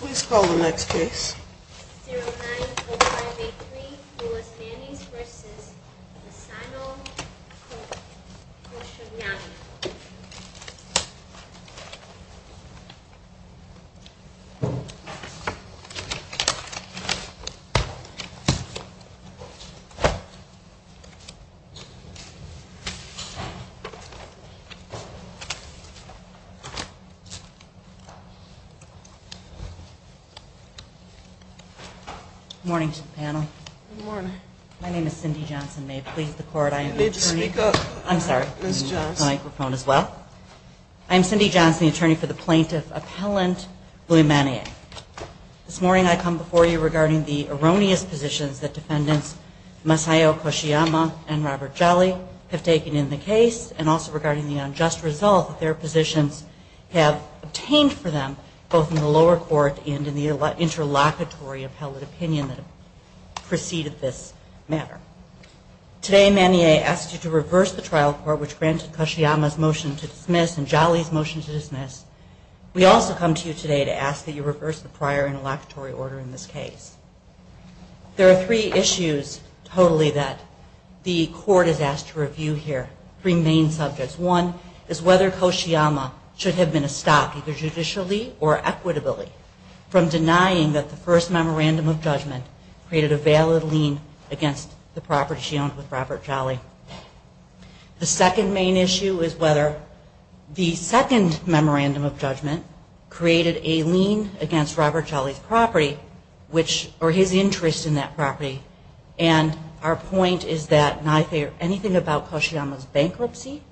Please call the next case. 090583 Lewis Mannings v. Asano Kosciuszko Good morning to the panel. Good morning. My name is Cindy Johnson. May it please the court, I am the attorney... You need to speak up. I'm sorry. Ms. Johnson. I need the microphone as well. I'm Cindy Johnson, the attorney for the plaintiff appellant, Louis Manning. This morning I come before you regarding the erroneous positions that defendants Masayo Koshiyama and Robert Jolly have taken in the case and also regarding the unjust result that their positions have obtained for them, both in the lower court and in the interlocutory appellate opinion that preceded this matter. Today Manning asked you to reverse the trial court, which granted Koshiyama's motion to dismiss and Jolly's motion to dismiss. We also come to you today to ask that you reverse the prior interlocutory order in this case. There are three issues totally that the court is asked to review here, three main subjects. One is whether Koshiyama should have been stopped either judicially or equitably from denying that the first memorandum of judgment created a valid lien against the property she owned with Robert Jolly. The second main issue is whether the second memorandum of judgment created a lien against Robert Jolly's property or his interest in that property. Our point is that neither anything about Koshiyama's bankruptcy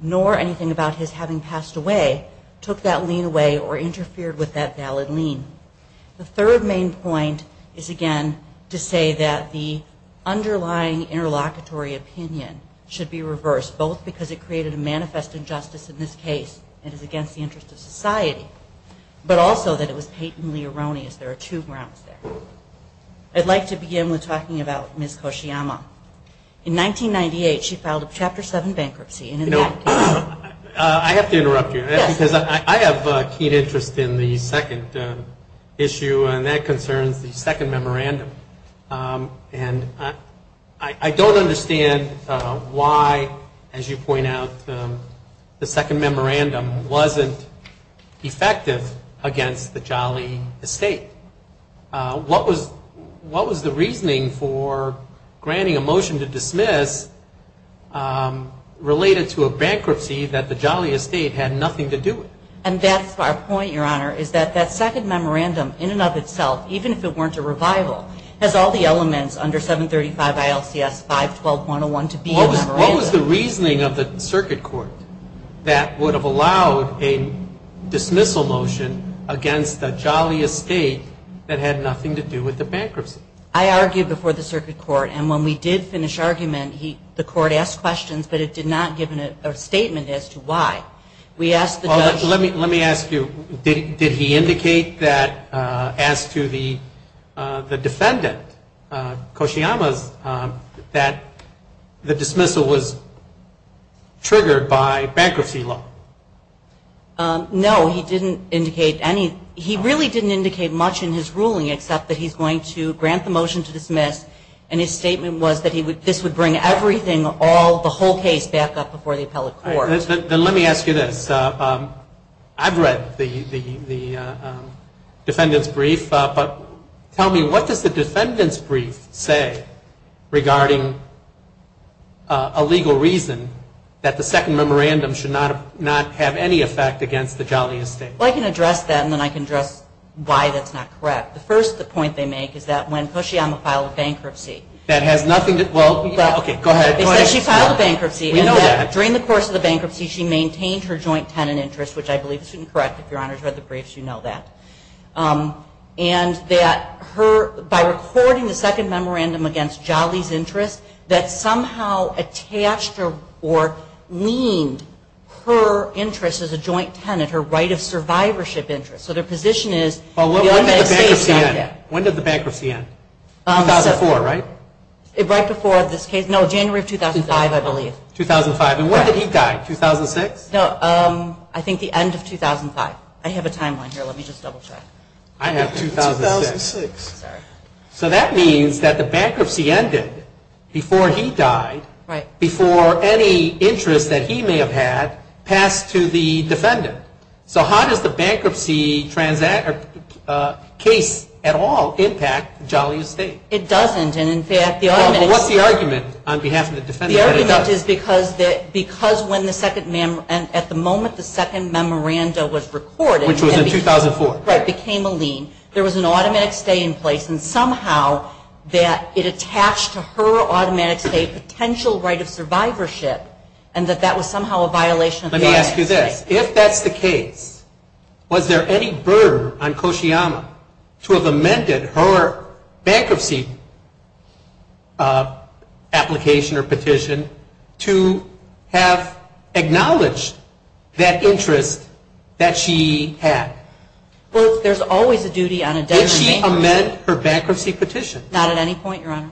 nor anything about his having passed away took that lien away or interfered with that valid lien. The third main point is again to say that the underlying interlocutory opinion should be reversed, both because it created a manifest injustice in this case and is against the interest of society, but also that it was patently erroneous. There are two grounds there. I'd like to begin with talking about Ms. Koshiyama. In 1998, she filed a Chapter 7 bankruptcy. I have to interrupt you because I have a keen interest in the second issue, and that concerns the second memorandum. And I don't understand why, as you point out, the second memorandum wasn't effective against the Jolly estate. What was the reasoning for granting a motion to dismiss related to a bankruptcy that the Jolly estate had nothing to do with? And that's our point, Your Honor, is that that second memorandum in and of itself, even if it weren't a revival, has all the elements under 735 ILCS 512.101 to be a memorandum. What was the reasoning of the circuit court that would have allowed a dismissal motion against the Jolly estate that had nothing to do with the bankruptcy? I argued before the circuit court, and when we did finish argument, the court asked questions, but it did not give a statement as to why. Let me ask you, did he indicate that as to the defendant, Koshiyama's, that the dismissal was triggered by bankruptcy law? No, he didn't indicate any. He really didn't indicate much in his ruling except that he's going to grant the motion to dismiss, and his statement was that this would bring everything, the whole case, back up before the appellate court. Then let me ask you this. I've read the defendant's brief, but tell me, what does the defendant's brief say regarding a legal reason that the second memorandum should not have any effect against the Jolly estate? Well, I can address that, and then I can address why that's not correct. First, the point they make is that when Koshiyama filed bankruptcy. That has nothing to, well, okay, go ahead. She filed bankruptcy, and during the course of the bankruptcy, she maintained her joint tenant interest, which I believe is incorrect. If your Honor's read the briefs, you know that. And that her, by recording the second memorandum against Jolly's interest, that somehow attached or leaned her interest as a joint tenant, her right of survivorship interest. So their position is. When did the bankruptcy end? 2004, right? Right before this case. No, January of 2005, I believe. 2005. And when did he die? 2006? No, I think the end of 2005. I have a timeline here. Let me just double check. I have 2006. So that means that the bankruptcy ended before he died, before any interest that he may have had passed to the defendant. So how does the bankruptcy case at all impact Jolly's estate? It doesn't, and in fact. What's the argument on behalf of the defendant? The argument is because when the second, at the moment the second memorandum was recorded. Which was in 2004. Right. It became a lien. There was an automatic stay in place, and somehow that it attached to her automatic stay potential right of survivorship, and that that was somehow a violation. Let me ask you this. If that's the case, was there any burden on Koshiyama to have amended her bankruptcy application or petition to have acknowledged that interest that she had? Well, there's always a duty on a debtor. Did she amend her bankruptcy petition? Not at any point, Your Honor.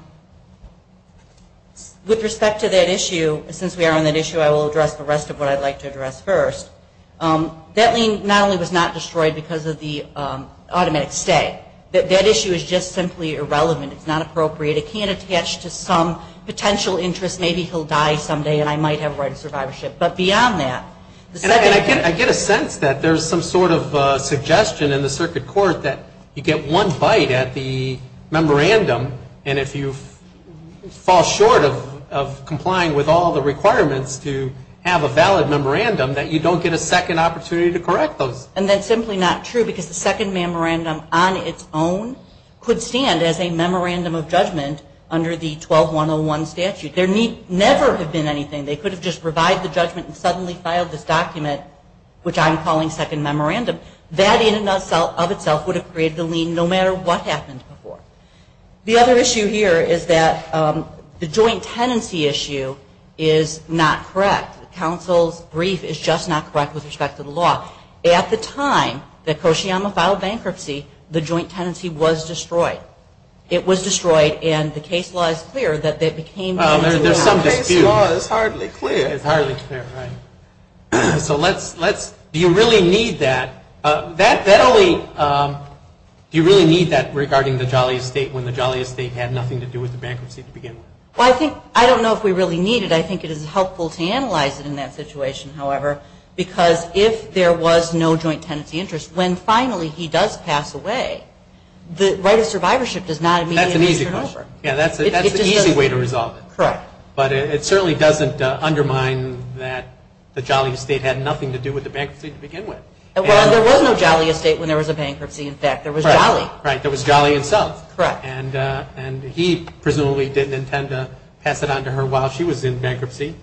With respect to that issue, since we are on that issue, I will address the rest of what I'd like to address first. That lien not only was not destroyed because of the automatic stay. That issue is just simply irrelevant. It's not appropriate. It can't attach to some potential interest. Maybe he'll die someday, and I might have a right of survivorship. But beyond that. I get a sense that there's some sort of suggestion in the circuit court that you get one bite at the memorandum, and if you fall short of complying with all the requirements to have a valid memorandum, that you don't get a second opportunity to correct those. And that's simply not true because the second memorandum on its own could stand as a memorandum of judgment under the 12-101 statute. There never have been anything. They could have just revived the judgment and suddenly filed this document, which I'm calling second memorandum. That in and of itself would have created the lien no matter what happened before. The other issue here is that the joint tenancy issue is not correct. The counsel's brief is just not correct with respect to the law. At the time that Koshiyama filed bankruptcy, the joint tenancy was destroyed. There's some dispute. It's hardly clear. It's hardly clear, right. So do you really need that? Do you really need that regarding the Jolly Estate when the Jolly Estate had nothing to do with the bankruptcy to begin with? Well, I don't know if we really need it. I think it is helpful to analyze it in that situation, however, because if there was no joint tenancy interest, when finally he does pass away, the right of survivorship does not immediately turn over. That's an easy question. Correct. But it certainly doesn't undermine that the Jolly Estate had nothing to do with the bankruptcy to begin with. Well, there was no Jolly Estate when there was a bankruptcy. In fact, there was Jolly. Right. There was Jolly itself. Correct. And he presumably didn't intend to pass it on to her while she was in bankruptcy,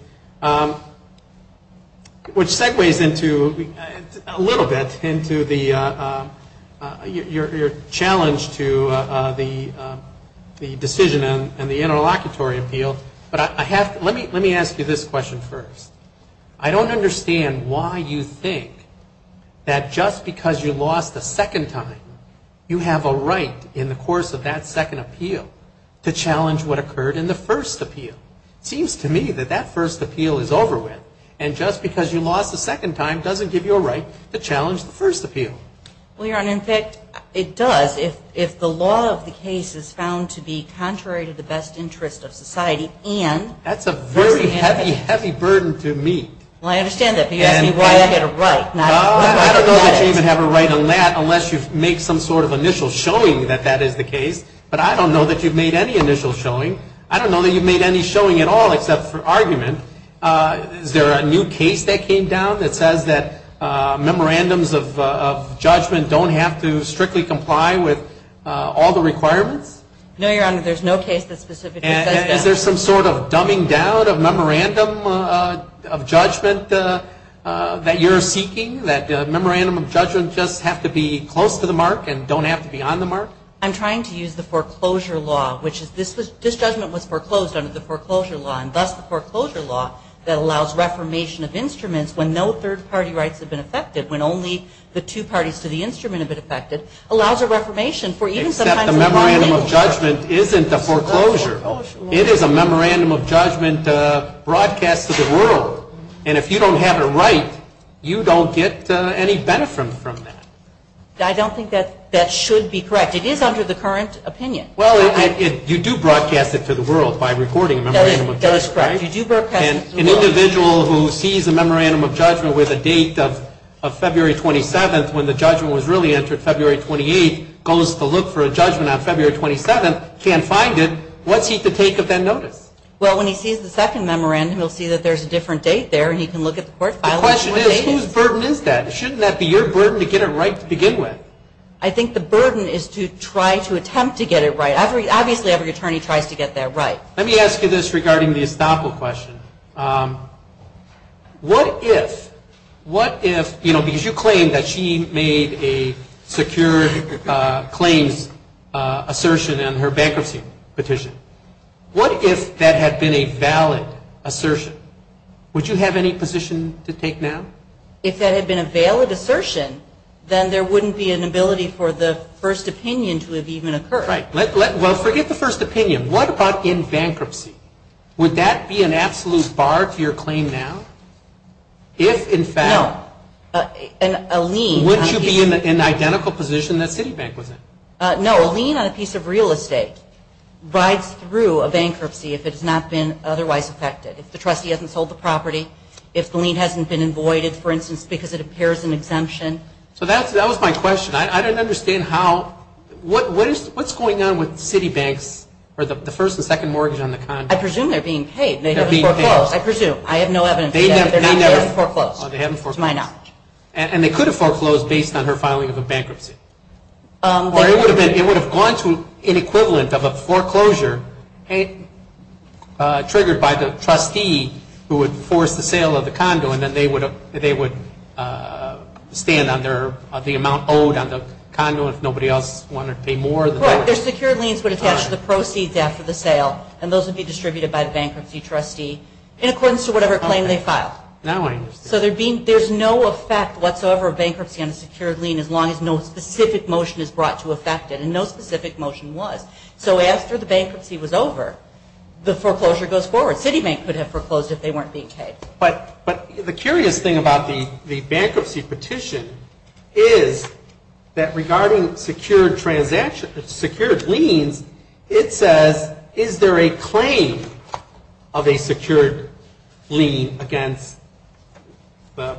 which segues into, a little bit, into your challenge to the decision and the interlocutory appeal. But let me ask you this question first. I don't understand why you think that just because you lost a second time, you have a right in the course of that second appeal to challenge what occurred in the first appeal. It seems to me that that first appeal is over with, and just because you lost a second time doesn't give you a right to the first appeal. Well, Your Honor, in fact, it does if the law of the case is found to be contrary to the best interest of society. That's a very heavy, heavy burden to meet. Well, I understand that. But you asked me why I had a right. I don't know that you even have a right on that unless you make some sort of initial showing that that is the case. But I don't know that you've made any initial showing. I don't know that you've made any showing at all except for argument. Is there a new case that came down that says that memorandums of judgment don't have to strictly comply with all the requirements? No, Your Honor. There's no case that specifically says that. Is there some sort of dumbing down of memorandum of judgment that you're seeking, that memorandum of judgment just have to be close to the mark and don't have to be on the mark? I'm trying to use the foreclosure law, which is this judgment was foreclosed under the foreclosure law, and thus the foreclosure law that allows reformation of instruments when no two parties to the instrument have been affected allows a reformation. Except the memorandum of judgment isn't a foreclosure. It is a memorandum of judgment broadcast to the world. And if you don't have it right, you don't get any benefit from that. I don't think that that should be correct. It is under the current opinion. Well, you do broadcast it to the world by recording a memorandum of judgment. That is correct. You do broadcast it to the world. An individual who sees a memorandum of judgment with a date of February 27th when the judgment was really entered February 28th, goes to look for a judgment on February 27th, can't find it. What's he to take of that notice? Well, when he sees the second memorandum, he'll see that there's a different date there and he can look at the court file and see what date it is. The question is, whose burden is that? Shouldn't that be your burden to get it right to begin with? I think the burden is to try to attempt to get it right. Obviously, every attorney tries to get that right. Let me ask you this regarding the estoppel question. What if, you know, because you claim that she made a secure claims assertion on her bankruptcy petition. What if that had been a valid assertion? Would you have any position to take now? If that had been a valid assertion, then there wouldn't be an ability for the first opinion to have even occurred. Right. Well, forget the first opinion. What about in bankruptcy? Would that be an absolute bar to your claim now? If, in fact, would you be in an identical position that Citibank was in? No. A lien on a piece of real estate rides through a bankruptcy if it has not been otherwise affected. If the trustee hasn't sold the property, if the lien hasn't been avoided, for instance, because it appears an exemption. So that was my question. I don't understand how, what's going on with Citibank's, or the first and second mortgage on the condo? I presume they're being paid. They're being foreclosed. I presume. I have no evidence to say that they're being paid. They never foreclosed. They haven't foreclosed. To my knowledge. And they could have foreclosed based on her filing of a bankruptcy. Or it would have gone to an equivalent of a foreclosure triggered by the trustee who would force the sale of the condo, and then they would stand on the amount owed on the condo if nobody else wanted to pay more. Right. Their secured liens would attach to the proceeds after the sale, and those would be distributed by the bankruptcy trustee in accordance to whatever claim they filed. Okay. Now I understand. So there's no effect whatsoever of bankruptcy on a secured lien as long as no specific motion is brought to affect it, and no specific motion was. So after the bankruptcy was over, the foreclosure goes forward. Citibank could have foreclosed if they weren't being paid. But the curious thing about the bankruptcy petition is that regarding secured liens, it says, is there a claim of a secured lien against the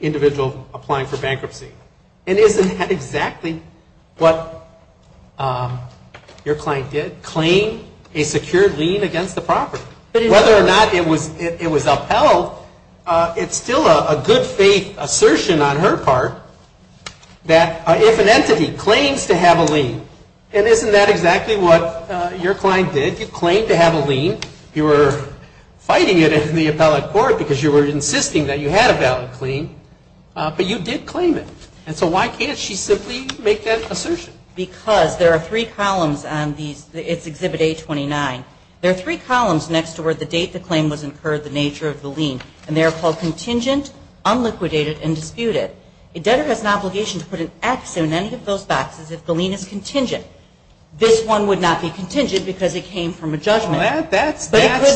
individual applying for bankruptcy? And isn't that exactly what your client did? Claim a secured lien against the property. Whether or not it was upheld, it's still a good faith assertion on her part that if an entity claims to have a lien, and isn't that exactly what your client did? You claimed to have a lien. You were fighting it in the appellate court because you were insisting that you had a valid claim, but you did claim it. And so why can't she simply make that assertion? Because there are three columns on these. It's Exhibit A29. There are three columns next to where the date the claim was incurred, the nature of the lien. And they are called contingent, unliquidated, and disputed. A debtor has an obligation to put an X in any of those boxes if the lien is contingent. This one would not be contingent because it came from a judgment. But it could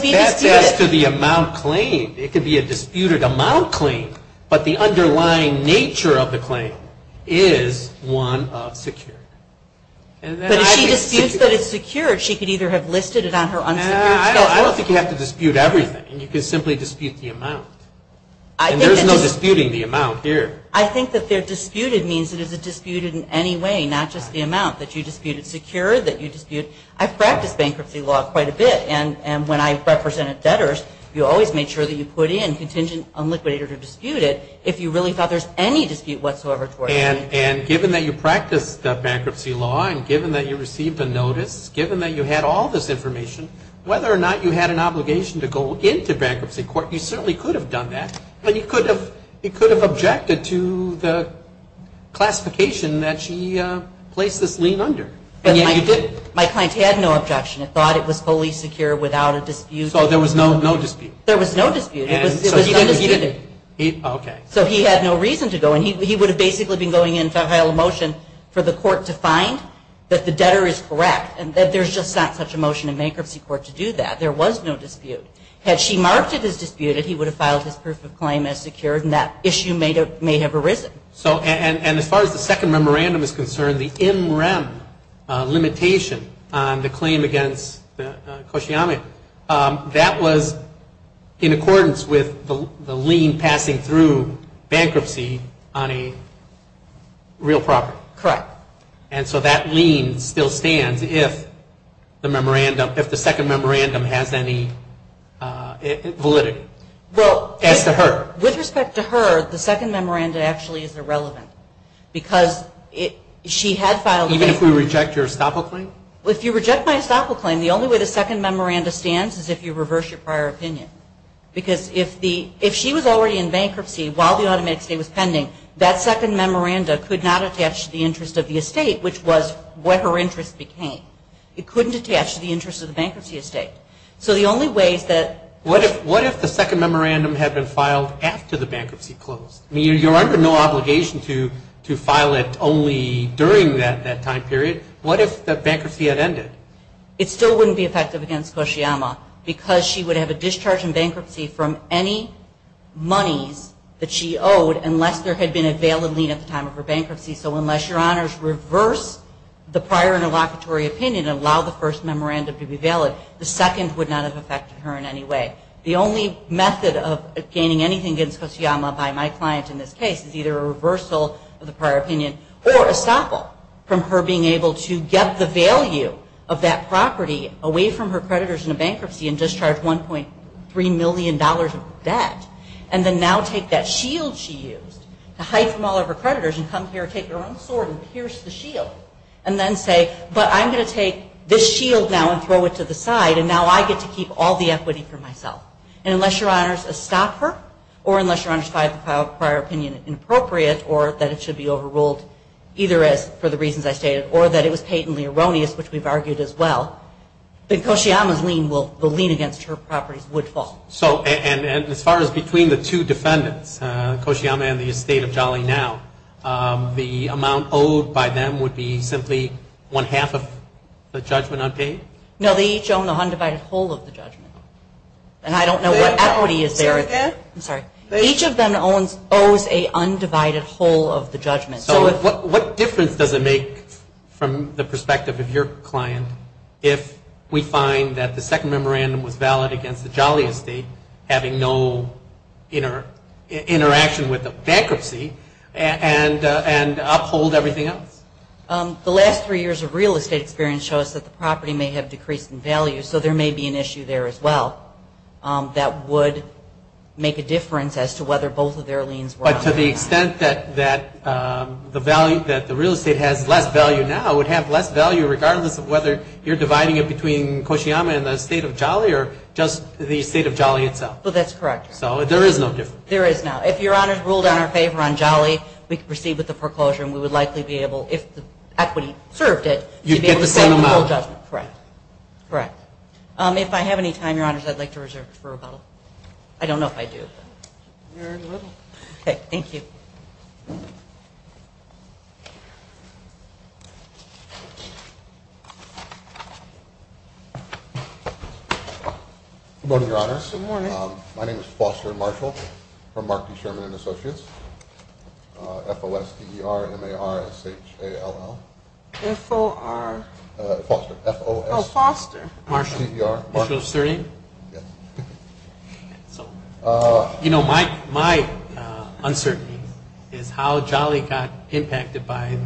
be disputed. That's as to the amount claimed. It could be a disputed amount claimed. But the underlying nature of the claim is one of secured. But if she disputes that it's secured, she could either have listed it on her unsecured account. I don't think you have to dispute everything. You can simply dispute the amount. And there's no disputing the amount here. I think that they're disputed means that it's disputed in any way, not just the amount that you disputed. It's secured that you disputed. I've practiced bankruptcy law quite a bit. And when I represented debtors, you always made sure that you put in contingent, unliquidated, or disputed if you really thought there's any dispute whatsoever toward the lien. And given that you practiced bankruptcy law and given that you received a notice, given that you had all this information, whether or not you had an obligation to go into bankruptcy court, you certainly could have done that. But you could have objected to the classification that she placed this lien under. My client had no objection. It thought it was fully secure without a dispute. So there was no dispute. There was no dispute. It was undisputed. Okay. So he had no reason to go. And he would have basically been going in to file a motion for the court to find that the debtor is correct, and that there's just not such a motion in bankruptcy court to do that. There was no dispute. Had she marked it as disputed, he would have filed his proof of claim as secured, and that issue may have arisen. And as far as the second memorandum is concerned, the MREM limitation on the claim against Koshiyama, that was in accordance with the lien passing through bankruptcy on a real property. Correct. And so that lien still stands if the second memorandum has any validity as to her. Well, with respect to her, the second memorandum actually is irrelevant because she had filed a claim. Even if we reject your estoppel claim? If you reject my estoppel claim, the only way the second memorandum stands is if you reverse your prior opinion. Because if she was already in bankruptcy while the automatic estate was pending, that second memorandum could not attach to the interest of the estate, which was what her interest became. It couldn't attach to the interest of the bankruptcy estate. So the only way is that – What if the second memorandum had been filed after the bankruptcy closed? I mean, you're under no obligation to file it only during that time period. What if the bankruptcy had ended? It still wouldn't be effective against Koshiyama because she would have a discharge in bankruptcy from any monies that she owed unless there had been a valid lien at the time of her bankruptcy. So unless your honors reverse the prior interlocutory opinion and allow the first memorandum to be valid, the second would not have affected her in any way. The only method of gaining anything against Koshiyama by my client in this case is either a reversal of the prior opinion or estoppel from her being able to get the value of that property away from her creditors in a bankruptcy and discharge $1.3 million of debt and then now take that shield she used to hide from all of her creditors and come here and take her own sword and pierce the shield and then say, but I'm going to take this shield now and throw it to the side and now I get to keep all the equity for myself. And unless your honors estoppel her or unless your honors find the prior opinion inappropriate or that it should be overruled either as for the reasons I stated or that it was patently erroneous, which we've argued as well, then Koshiyama's lien against her properties would fall. And as far as between the two defendants, Koshiyama and the estate of Jolly now, the amount owed by them would be simply one-half of the judgment unpaid? No, they each own a undivided whole of the judgment. And I don't know what equity is there. Say that again. I'm sorry. Each of them owes a undivided whole of the judgment. So what difference does it make from the perspective of your client if we find that the second memorandum was valid against the Jolly estate having no interaction with the bankruptcy and uphold everything else? The last three years of real estate experience show us that the property may have decreased in value, so there may be an issue there as well that would make a difference as to whether both of their liens were unpaid. But to the extent that the real estate has less value now would have less value regardless of whether you're dividing it between Koshiyama and the estate of Jolly or just the estate of Jolly itself? Well, that's correct. So there is no difference. There is not. If Your Honors ruled in our favor on Jolly, we could proceed with the foreclosure and we would likely be able, if the equity served it, to be able to settle the whole judgment. Correct. Correct. If I have any time, Your Honors, I'd like to reserve a referral. I don't know if I do. Very little. Okay. Thank you. Good morning, Your Honors. Good morning. My name is Foster Marshall from Mark D. Sherman & Associates. F-O-S-T-E-R-M-A-R-S-H-A-L-L. F-O-R. Foster. F-O-S-T-E-R-M-A-R-S-H-A-L-L. Marshall. Marshall of Surrey? Yes. You know, my uncertainty is how Jolly got impacted by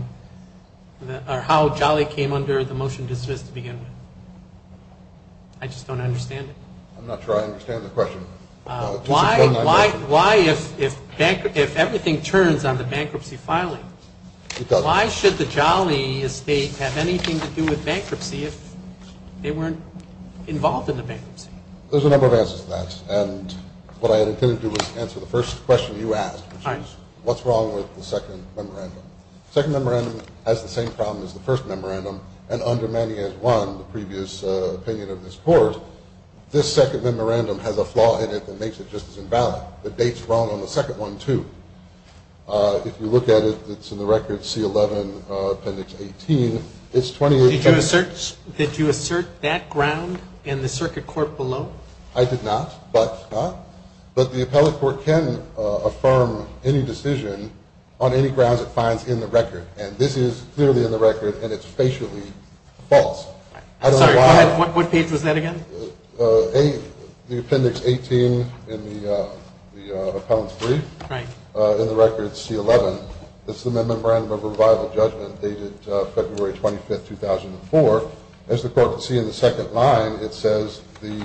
or how Jolly came under the motion dismissed to begin with. I just don't understand it. I'm not sure I understand the question. Why, if everything turns on the bankruptcy filing, Why should the Jolly estate have anything to do with bankruptcy if they weren't involved in the bankruptcy? There's a number of answers to that. And what I intended to do was answer the first question you asked, which is what's wrong with the second memorandum? The second memorandum has the same problem as the first memorandum. And under many as one, the previous opinion of this Court, this second memorandum has a flaw in it that makes it just as invalid. The date's wrong on the second one, too. If you look at it, it's in the record, C-11, Appendix 18. It's 2018. Did you assert that ground in the circuit court below? I did not, but the appellate court can affirm any decision on any grounds it finds in the record. And this is clearly in the record, and it's facially false. Sorry, go ahead. What page was that again? The Appendix 18 in the appellant's brief. Right. In the record, C-11. It's the Memorandum of Revival judgment dated February 25, 2004. As the Court can see in the second line, it says the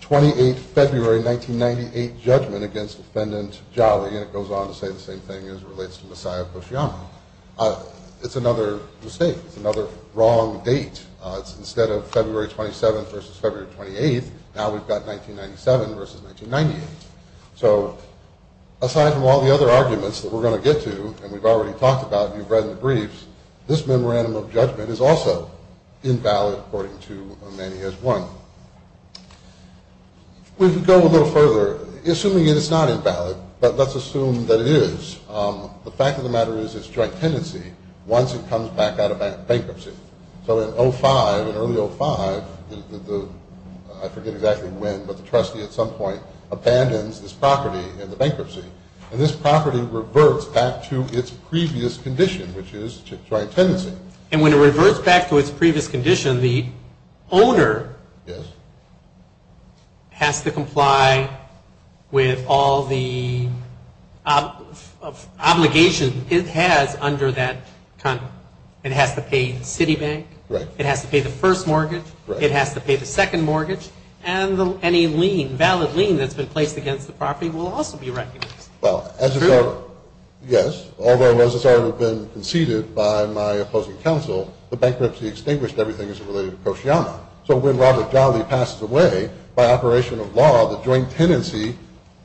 28 February 1998 judgment against Defendant Jolly, and it goes on to say the same thing as it relates to Messiah Koshyam. It's another mistake. It's another wrong date. It's instead of February 27th versus February 28th, now we've got 1997 versus 1998. So aside from all the other arguments that we're going to get to, and we've already talked about and you've read in the briefs, this memorandum of judgment is also invalid according to Manny S. One. We can go a little further. Assuming it is not invalid, but let's assume that it is, the fact of the matter is it's joint tenancy once it comes back out of bankruptcy. So in 05, in early 05, I forget exactly when, but the trustee at some point abandons this property in the bankruptcy, and this property reverts back to its previous condition, which is joint tenancy. And when it reverts back to its previous condition, the owner has to comply with all the obligations it has It has to pay the city bank. Right. It has to pay the first mortgage. Right. It has to pay the second mortgage. And any lien, valid lien that's been placed against the property will also be recognized. Well, as it's our, yes, although as it's already been conceded by my opposing counsel, the bankruptcy extinguished everything as it related to Koshyama. So when Robert Jolly passes away, by operation of law, the joint tenancy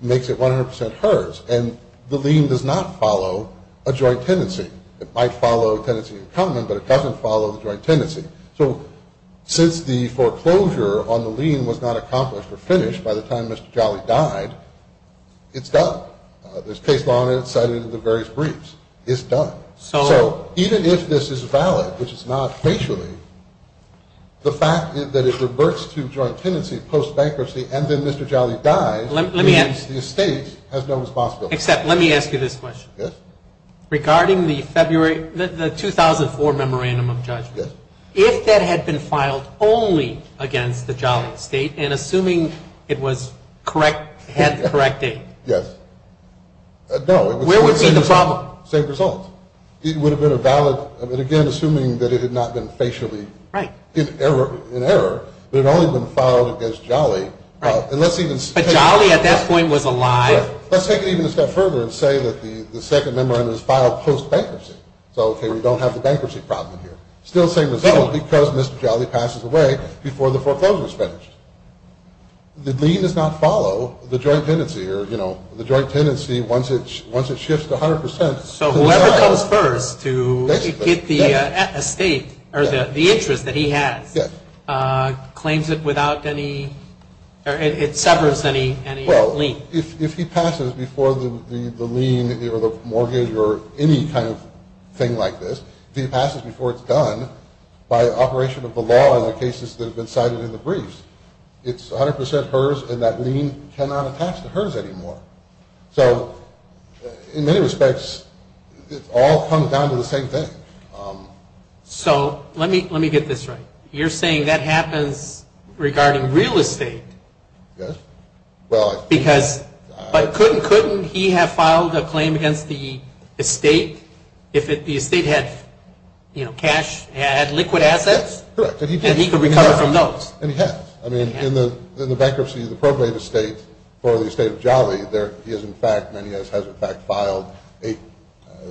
makes it 100% hers. And the lien does not follow a joint tenancy. It might follow a tenancy in common, but it doesn't follow the joint tenancy. So since the foreclosure on the lien was not accomplished or finished by the time Mr. Jolly died, it's done. There's case law and it's cited in the various briefs. It's done. So even if this is valid, which it's not facially, the fact that it reverts to joint tenancy post-bankruptcy and then Mr. Jolly dies means the estate has no responsibility. Except let me ask you this question. Yes. Regarding the February, the 2004 memorandum of judgment. Yes. If that had been filed only against the Jolly estate and assuming it was correct, had the correct date. Yes. No. Where would be the problem? Same result. It would have been a valid, again, assuming that it had not been facially. Right. In error, but it had only been filed against Jolly. Right. And let's even say. But Jolly at that point was alive. Right. Let's take it even a step further and say that the second memorandum is filed post-bankruptcy. So, okay, we don't have the bankruptcy problem here. Still the same result because Mr. Jolly passes away before the foreclosure is finished. The lien does not follow the joint tenancy or, you know, the joint tenancy once it shifts to 100 percent. So whoever comes first to get the estate or the interest that he has. Yes. Claims it without any or it severs any lien. Well, if he passes before the lien or the mortgage or any kind of thing like this, if he passes before it's done by operation of the law in the cases that have been cited in the briefs, it's 100 percent hers and that lien cannot attach to hers anymore. So in many respects, it all comes down to the same thing. So let me get this right. You're saying that happens regarding real estate. Yes. Because but couldn't he have filed a claim against the estate if the estate had, you know, cash, had liquid assets? Correct. And he could recover from those. And he has. I mean, in the bankruptcy of the probate estate for the estate of Jolly, there is, in fact, and he has, in fact, filed eight.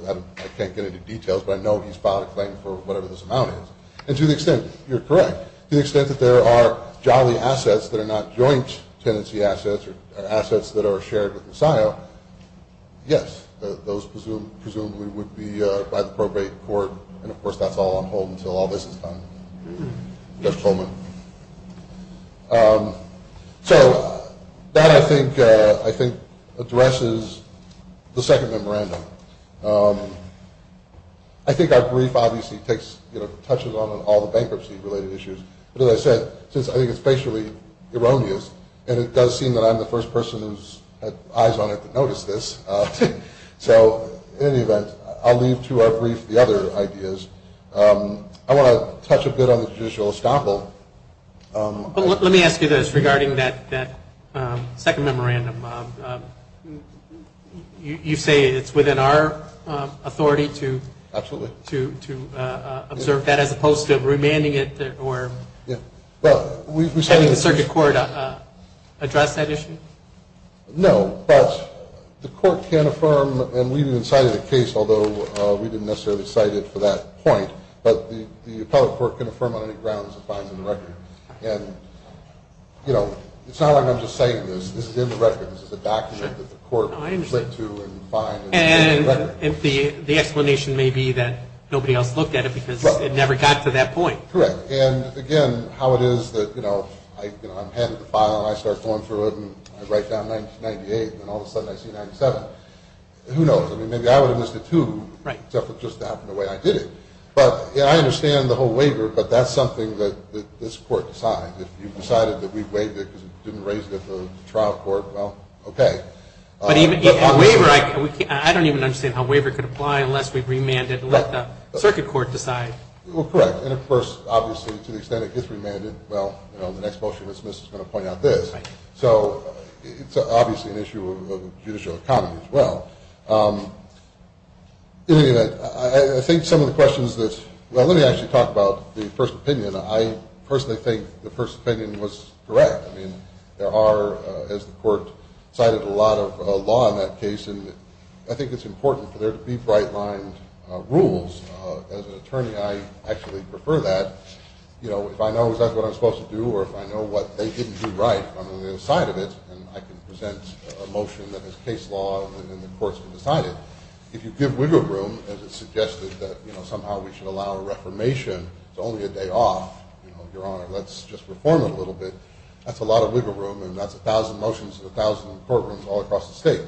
I can't get into details, but I know he's filed a claim for whatever this amount is. And to the extent, you're correct, to the extent that there are Jolly assets that are not joint tenancy assets or assets that are shared with Messiah, yes, those presumably would be by the probate court. And, of course, that's all on hold until all this is done. Just a moment. So that, I think, addresses the second memorandum. I think our brief obviously touches on all the bankruptcy-related issues. But as I said, since I think it's basically erroneous, and it does seem that I'm the first person who's had eyes on it to notice this. So in any event, I'll leave to our brief the other ideas. I want to touch a bit on the judicial estoppel. But let me ask you this regarding that second memorandum. You say it's within our authority to observe that as opposed to remanding it or having the circuit court address that issue? No, but the court can affirm, and we even cited a case, although we didn't necessarily cite it for that point, but the appellate court can affirm on any grounds it finds in the record. And, you know, it's not like I'm just citing this. This is in the record. This is a document that the court went to and finds. And the explanation may be that nobody else looked at it because it never got to that point. Correct. And, again, how it is that, you know, I'm handed the file, and I start going through it, and I write down 1998, and then all of a sudden I see 1997. Who knows? I mean, maybe I would have missed it, too, except it just happened the way I did it. But, you know, I understand the whole waiver, but that's something that this court decides. If you've decided that we've waived it because it didn't raise it at the trial court, well, okay. But even waiver, I don't even understand how waiver could apply unless we remand it and let the circuit court decide. Well, correct. And, of course, obviously to the extent it gets remanded, well, you know, the next Bolshevik-Smiths is going to point out this. So it's obviously an issue of judicial economy as well. In any event, I think some of the questions that – well, let me actually talk about the first opinion. I personally think the first opinion was correct. I mean, there are, as the court cited, a lot of law in that case, and I think it's important for there to be bright-lined rules. As an attorney, I actually prefer that. You know, if I know is that what I'm supposed to do or if I know what they didn't do right, I'm on the other side of it and I can present a motion that is case law and then the courts can decide it. If you give wiggle room as it's suggested that, you know, somehow we should allow a reformation, it's only a day off, you know, Your Honor, let's just reform it a little bit, that's a lot of wiggle room and that's 1,000 motions in 1,000 courtrooms all across the state.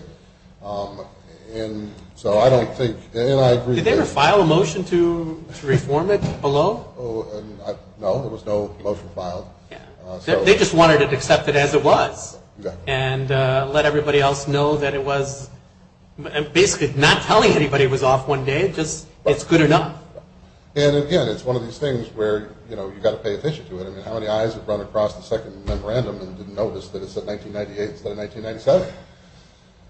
And so I don't think – and I agree that – Did they ever file a motion to reform it below? No, there was no motion filed. They just wanted it accepted as it was and let everybody else know that it was – basically not telling anybody it was off one day, just it's good enough. And, again, it's one of these things where, you know, you've got to pay attention to it. I mean, how many eyes have run across the second memorandum and didn't notice that it said 1998 instead of 1997?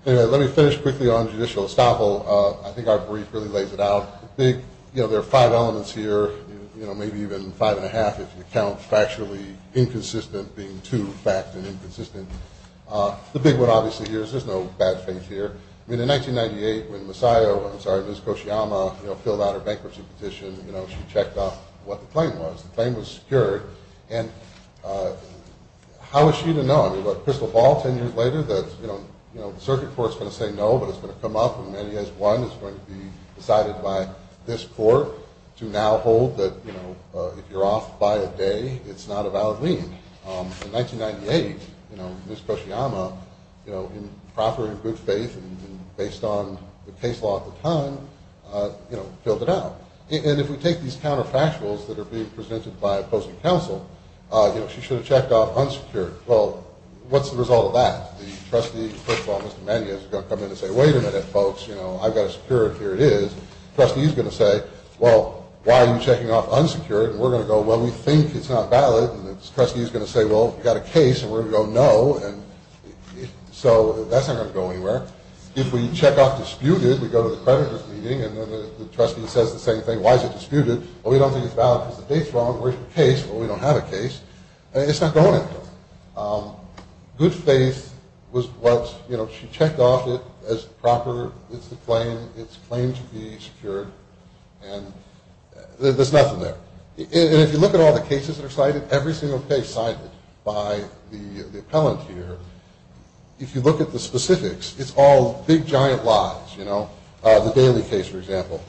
Anyway, let me finish quickly on judicial estoppel. I think our brief really lays it out. I think, you know, there are five elements here, you know, maybe even five and a half if you count factually inconsistent being two, fact and inconsistent. The big one obviously here is there's no bad faith here. I mean, in 1998 when Messiah – I'm sorry, Ms. Koshiyama, you know, filled out her bankruptcy petition, you know, she checked off what the claim was. The claim was secured. And how is she to know? I mean, what, crystal ball 10 years later that, you know, the circuit court is going to say no but it's going to come up when many as one is going to be decided by this court to now hold that, you know, if you're off by a day, it's not a valid lien. In 1998, you know, Ms. Koshiyama, you know, in proper and good faith and based on the case law at the time, you know, filled it out. And if we take these counterfactuals that are being presented by opposing counsel, you know, she should have checked off unsecured. Well, what's the result of that? The trustee, crystal ball, Mr. Manyas, is going to come in and say, wait a minute, folks, you know, I've got it secured, here it is. The trustee is going to say, well, why are you checking off unsecured? And we're going to go, well, we think it's not valid. And the trustee is going to say, well, we've got a case, and we're going to go no. And so that's not going to go anywhere. If we check off disputed, we go to the creditor's meeting, and then the trustee says the same thing, why is it disputed? Well, we don't think it's valid because the date's wrong. Where's your case? Well, we don't have a case. It's not going anywhere. Good faith was what, you know, she checked off it as proper. It's the claim. It's claimed to be secured. And there's nothing there. And if you look at all the cases that are cited, every single case cited by the appellant here, if you look at the specifics, it's all big, giant lies, you know. The Daly case, for example.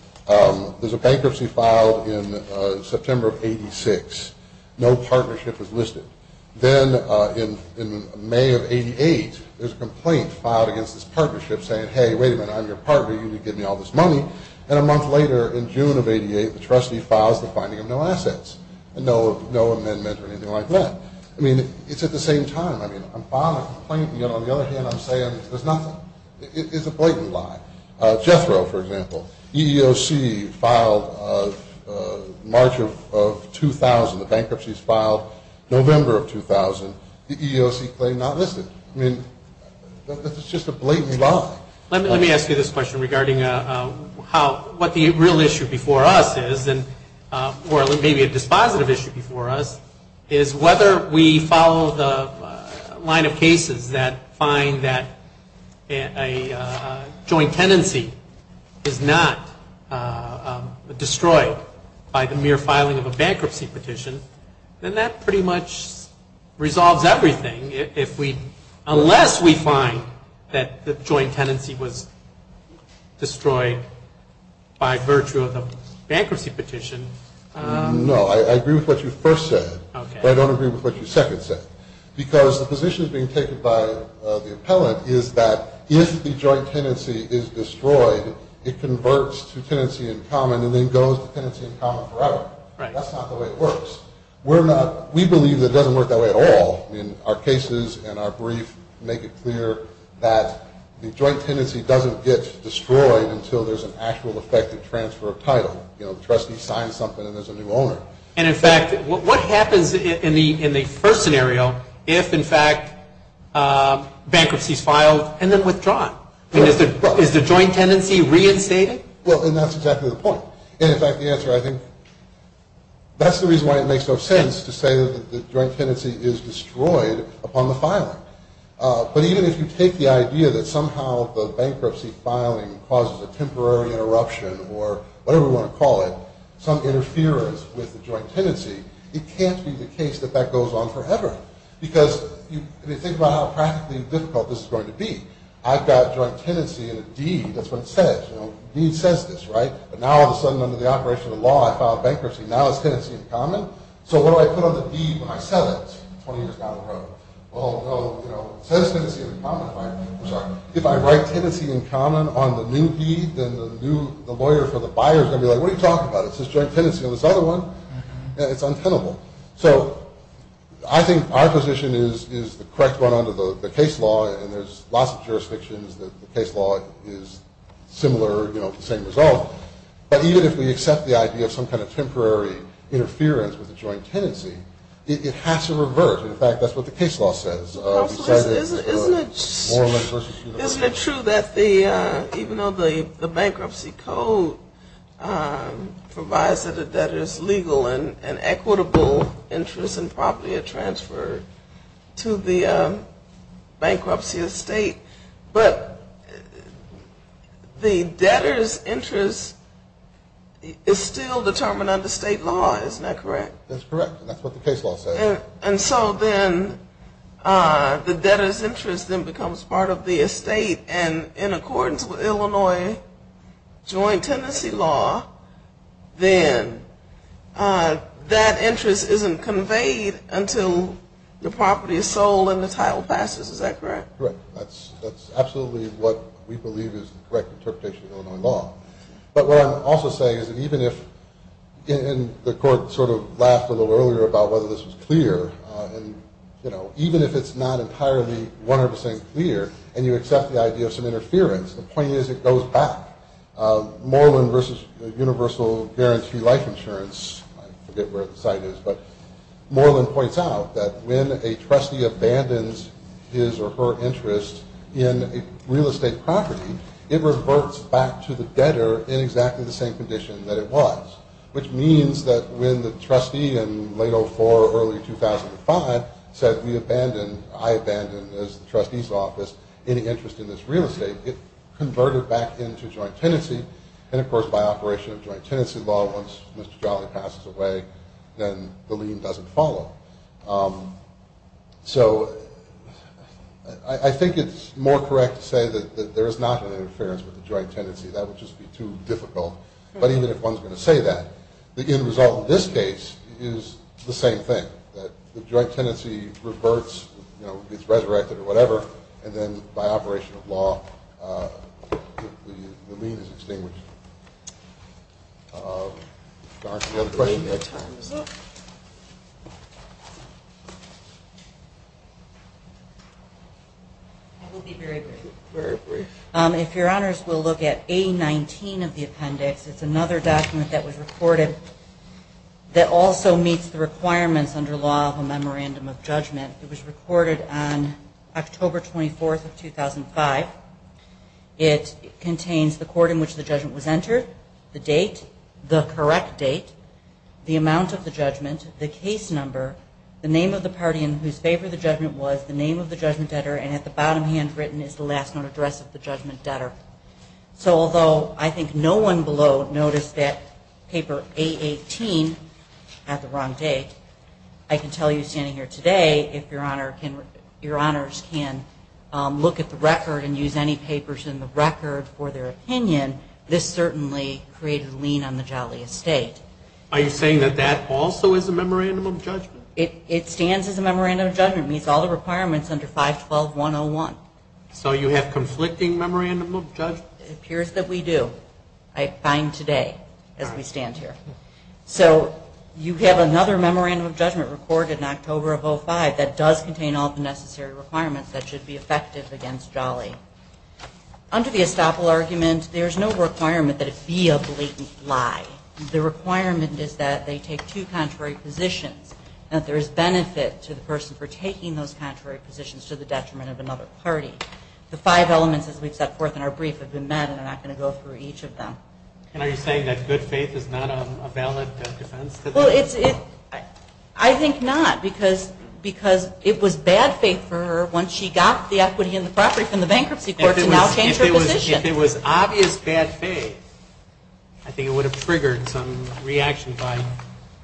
There's a bankruptcy filed in September of 86. No partnership is listed. Then in May of 88, there's a complaint filed against this partnership saying, hey, wait a minute, I'm your partner, you need to give me all this money. And a month later, in June of 88, the trustee files the finding of no assets, and no amendment or anything like that. I mean, it's at the same time. I mean, I'm filing a complaint, and yet on the other hand, I'm saying there's nothing. It's a blatant lie. Jethro, for example. EEOC filed March of 2000, the bankruptcy's filed. November of 2000, the EEOC claimed not listed. I mean, it's just a blatant lie. Let me ask you this question regarding what the real issue before us is, or maybe a dispositive issue before us, is whether we follow the line of cases that find that a joint tenancy is not destroyed by the mere filing of a bankruptcy petition, then that pretty much resolves everything. Unless we find that the joint tenancy was destroyed by virtue of the bankruptcy petition. No, I agree with what you first said, but I don't agree with what you second said. Because the position being taken by the appellant is that if the joint tenancy is destroyed, it converts to tenancy in common and then goes to tenancy in common forever. Right. That's not the way it works. We believe that it doesn't work that way at all. I mean, our cases and our brief make it clear that the joint tenancy doesn't get destroyed until there's an actual effective transfer of title. You know, the trustee signs something and there's a new owner. And, in fact, what happens in the first scenario if, in fact, bankruptcy's filed and then withdrawn? Is the joint tenancy reinstated? Well, and that's exactly the point. And, in fact, the answer, I think, that's the reason why it makes no sense to say that the joint tenancy is destroyed upon the filing. But even if you take the idea that somehow the bankruptcy filing causes a temporary interruption or whatever we want to call it, some interference with the joint tenancy, it can't be the case that that goes on forever. Because, I mean, think about how practically difficult this is going to be. I've got joint tenancy in a deed. That's what it says. You know, the deed says this, right? But now, all of a sudden, under the operation of the law, I filed bankruptcy. Now it's tenancy in common. So what do I put on the deed when I sell it 20 years down the road? Well, no, you know, it says tenancy in common, right? I'm sorry. If I write tenancy in common on the new deed, then the lawyer for the buyer is going to be like, what are you talking about? It says joint tenancy on this other one. It's untenable. So I think our position is the correct one under the case law, and there's lots of jurisdictions that the case law is similar, you know, the same result. But even if we accept the idea of some kind of temporary interference with the joint tenancy, it has to revert. In fact, that's what the case law says. Isn't it true that even though the bankruptcy code provides that a debtor's legal and equitable interest and property are transferred to the bankruptcy estate, but the debtor's interest is still determined under state law. Isn't that correct? That's correct. That's what the case law says. And so then the debtor's interest then becomes part of the estate, and in accordance with Illinois joint tenancy law, then that interest isn't conveyed until the property is sold and the title passes. Is that correct? Correct. That's absolutely what we believe is the correct interpretation of Illinois law. But what I'm also saying is that even if the court sort of laughed a little earlier about whether this was clear, and, you know, even if it's not entirely 100 percent clear and you accept the idea of some interference, the point is it goes back. Moreland versus Universal Guarantee Life Insurance, I forget where the site is, but Moreland points out that when a trustee abandons his or her interest in a real estate property, it reverts back to the debtor in exactly the same condition that it was, which means that when the trustee in late 2004 or early 2005 said, I abandon, as the trustee's office, any interest in this real estate, it converted back into joint tenancy, and, of course, by operation of joint tenancy law, once Mr. Jolly passes away, then the lien doesn't follow. So I think it's more correct to say that there is not an interference with the joint tenancy. That would just be too difficult. But even if one's going to say that, the end result in this case is the same thing, that the joint tenancy reverts, you know, gets resurrected or whatever, and then by operation of law, the lien is extinguished. Dr., do you have a question? It will be very brief. Very brief. If Your Honors will look at A-19 of the appendix, it's another document that was reported that also meets the requirements under law of a memorandum of judgment. It was recorded on October 24th of 2005. It contains the court in which the judgment was entered, the date, the correct date, the amount of the judgment, the case number, the name of the party in whose favor the judgment was, the name of the judgment debtor, and at the bottom handwritten is the last known address of the judgment debtor. So although I think no one below noticed that paper A-18 had the wrong date, I can tell you standing here today, if Your Honors can look at the record and use any papers in the record for their opinion, this certainly created a lien on the Jolly Estate. Are you saying that that also is a memorandum of judgment? It stands as a memorandum of judgment. It meets all the requirements under 512-101. So you have conflicting memorandum of judgment? It appears that we do. I find today as we stand here. So you have another memorandum of judgment recorded in October of 2005 that does contain all the necessary requirements that should be effective against Jolly. Under the estoppel argument, there is no requirement that it be a blatant lie. The requirement is that they take two contrary positions and that there is benefit to the person for taking those contrary positions to the detriment of another party. The five elements, as we've set forth in our brief, have been met and I'm not going to go through each of them. And are you saying that good faith is not a valid defense? I think not because it was bad faith for her once she got the equity in the property from the bankruptcy court to now change her position. If it was obvious bad faith, I think it would have triggered some reaction by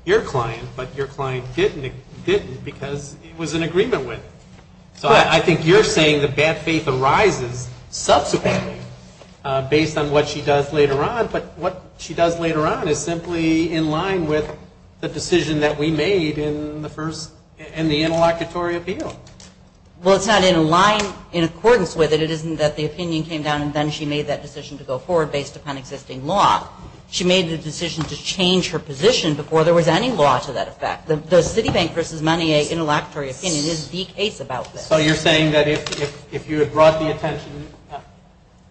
your client, but your client didn't because it was in agreement with. So I think you're saying that bad faith arises subsequently based on what she does later on, but what she does later on is simply in line with the decision that we made in the interlocutory appeal. Well, it's not in line in accordance with it. It isn't that the opinion came down and then she made that decision to go forward based upon existing law. She made the decision to change her position before there was any law to that effect. The Citibank v. Monnier interlocutory opinion is the case about this. So you're saying that if you had brought the attention,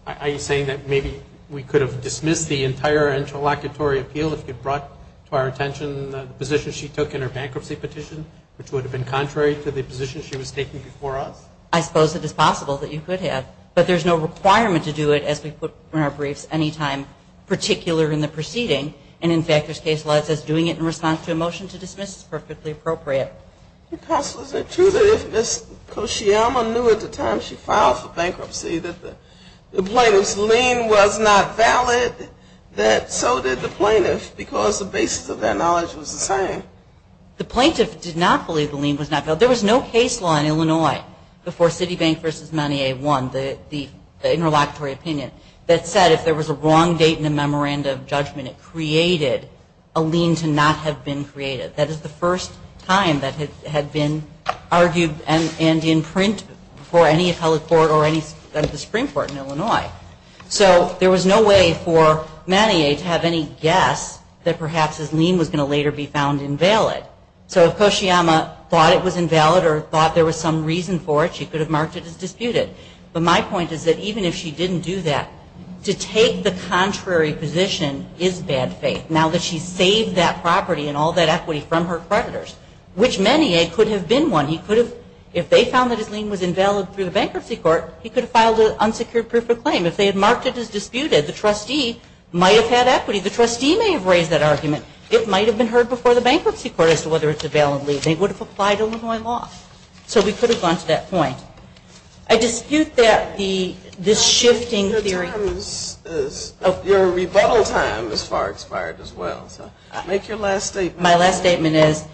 are you saying that maybe we could have dismissed the entire interlocutory appeal if you brought to our attention the position she took in her bankruptcy petition, which would have been contrary to the position she was taking before us? I suppose it is possible that you could have, but there's no requirement to do it as we put in our briefs any time particular in the proceeding. And, in fact, there's case law that says doing it in response to a motion to dismiss is perfectly appropriate. Counsel, is it true that if Ms. Koscielma knew at the time she filed for bankruptcy that the plaintiff's lien was not valid, that so did the plaintiff because the basis of their knowledge was the same? The plaintiff did not believe the lien was not valid. There was no case law in Illinois before Citibank v. Monnier won the interlocutory opinion that said if there was a wrong date in the memorandum of judgment, it created a lien to not have been created. That is the first time that had been argued and in print for any appellate court or any of the Supreme Court in Illinois. So there was no way for Monnier to have any guess that perhaps his lien was going to later be found invalid. So if Koscielma thought it was invalid or thought there was some reason for it, she could have marked it as disputed. But my point is that even if she didn't do that, to take the contrary position is bad faith. Now that she's saved that property and all that equity from her creditors, which Monnier could have been one. If they found that his lien was invalid through the bankruptcy court, he could have filed an unsecured proof of claim. If they had marked it as disputed, the trustee might have had equity. The trustee may have raised that argument. It might have been heard before the bankruptcy court as to whether it's a valid lien. They would have applied Illinois law. So we could have gone to that point. I dispute this shifting theory. Your rebuttal time has far expired as well. Make your last statement. My last statement is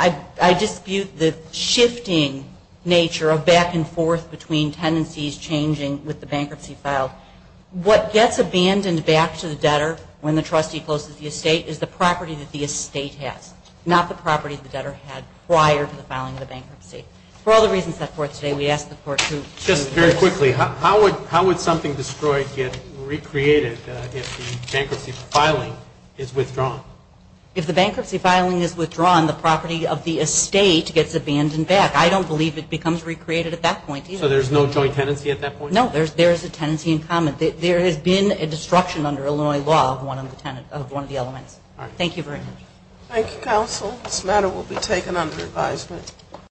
I dispute the shifting nature of back and forth between tendencies changing with the bankruptcy filed. What gets abandoned back to the debtor when the trustee closes the estate is the property that the estate has, not the property the debtor had prior to the filing of the bankruptcy. For all the reasons set forth today, we ask the court to choose first. Quickly, how would something destroyed get recreated if the bankruptcy filing is withdrawn? If the bankruptcy filing is withdrawn, the property of the estate gets abandoned back. I don't believe it becomes recreated at that point either. So there's no joint tenancy at that point? No, there is a tenancy in common. There has been a destruction under Illinois law of one of the elements. Thank you very much. Thank you, counsel. This matter will be taken under advisement.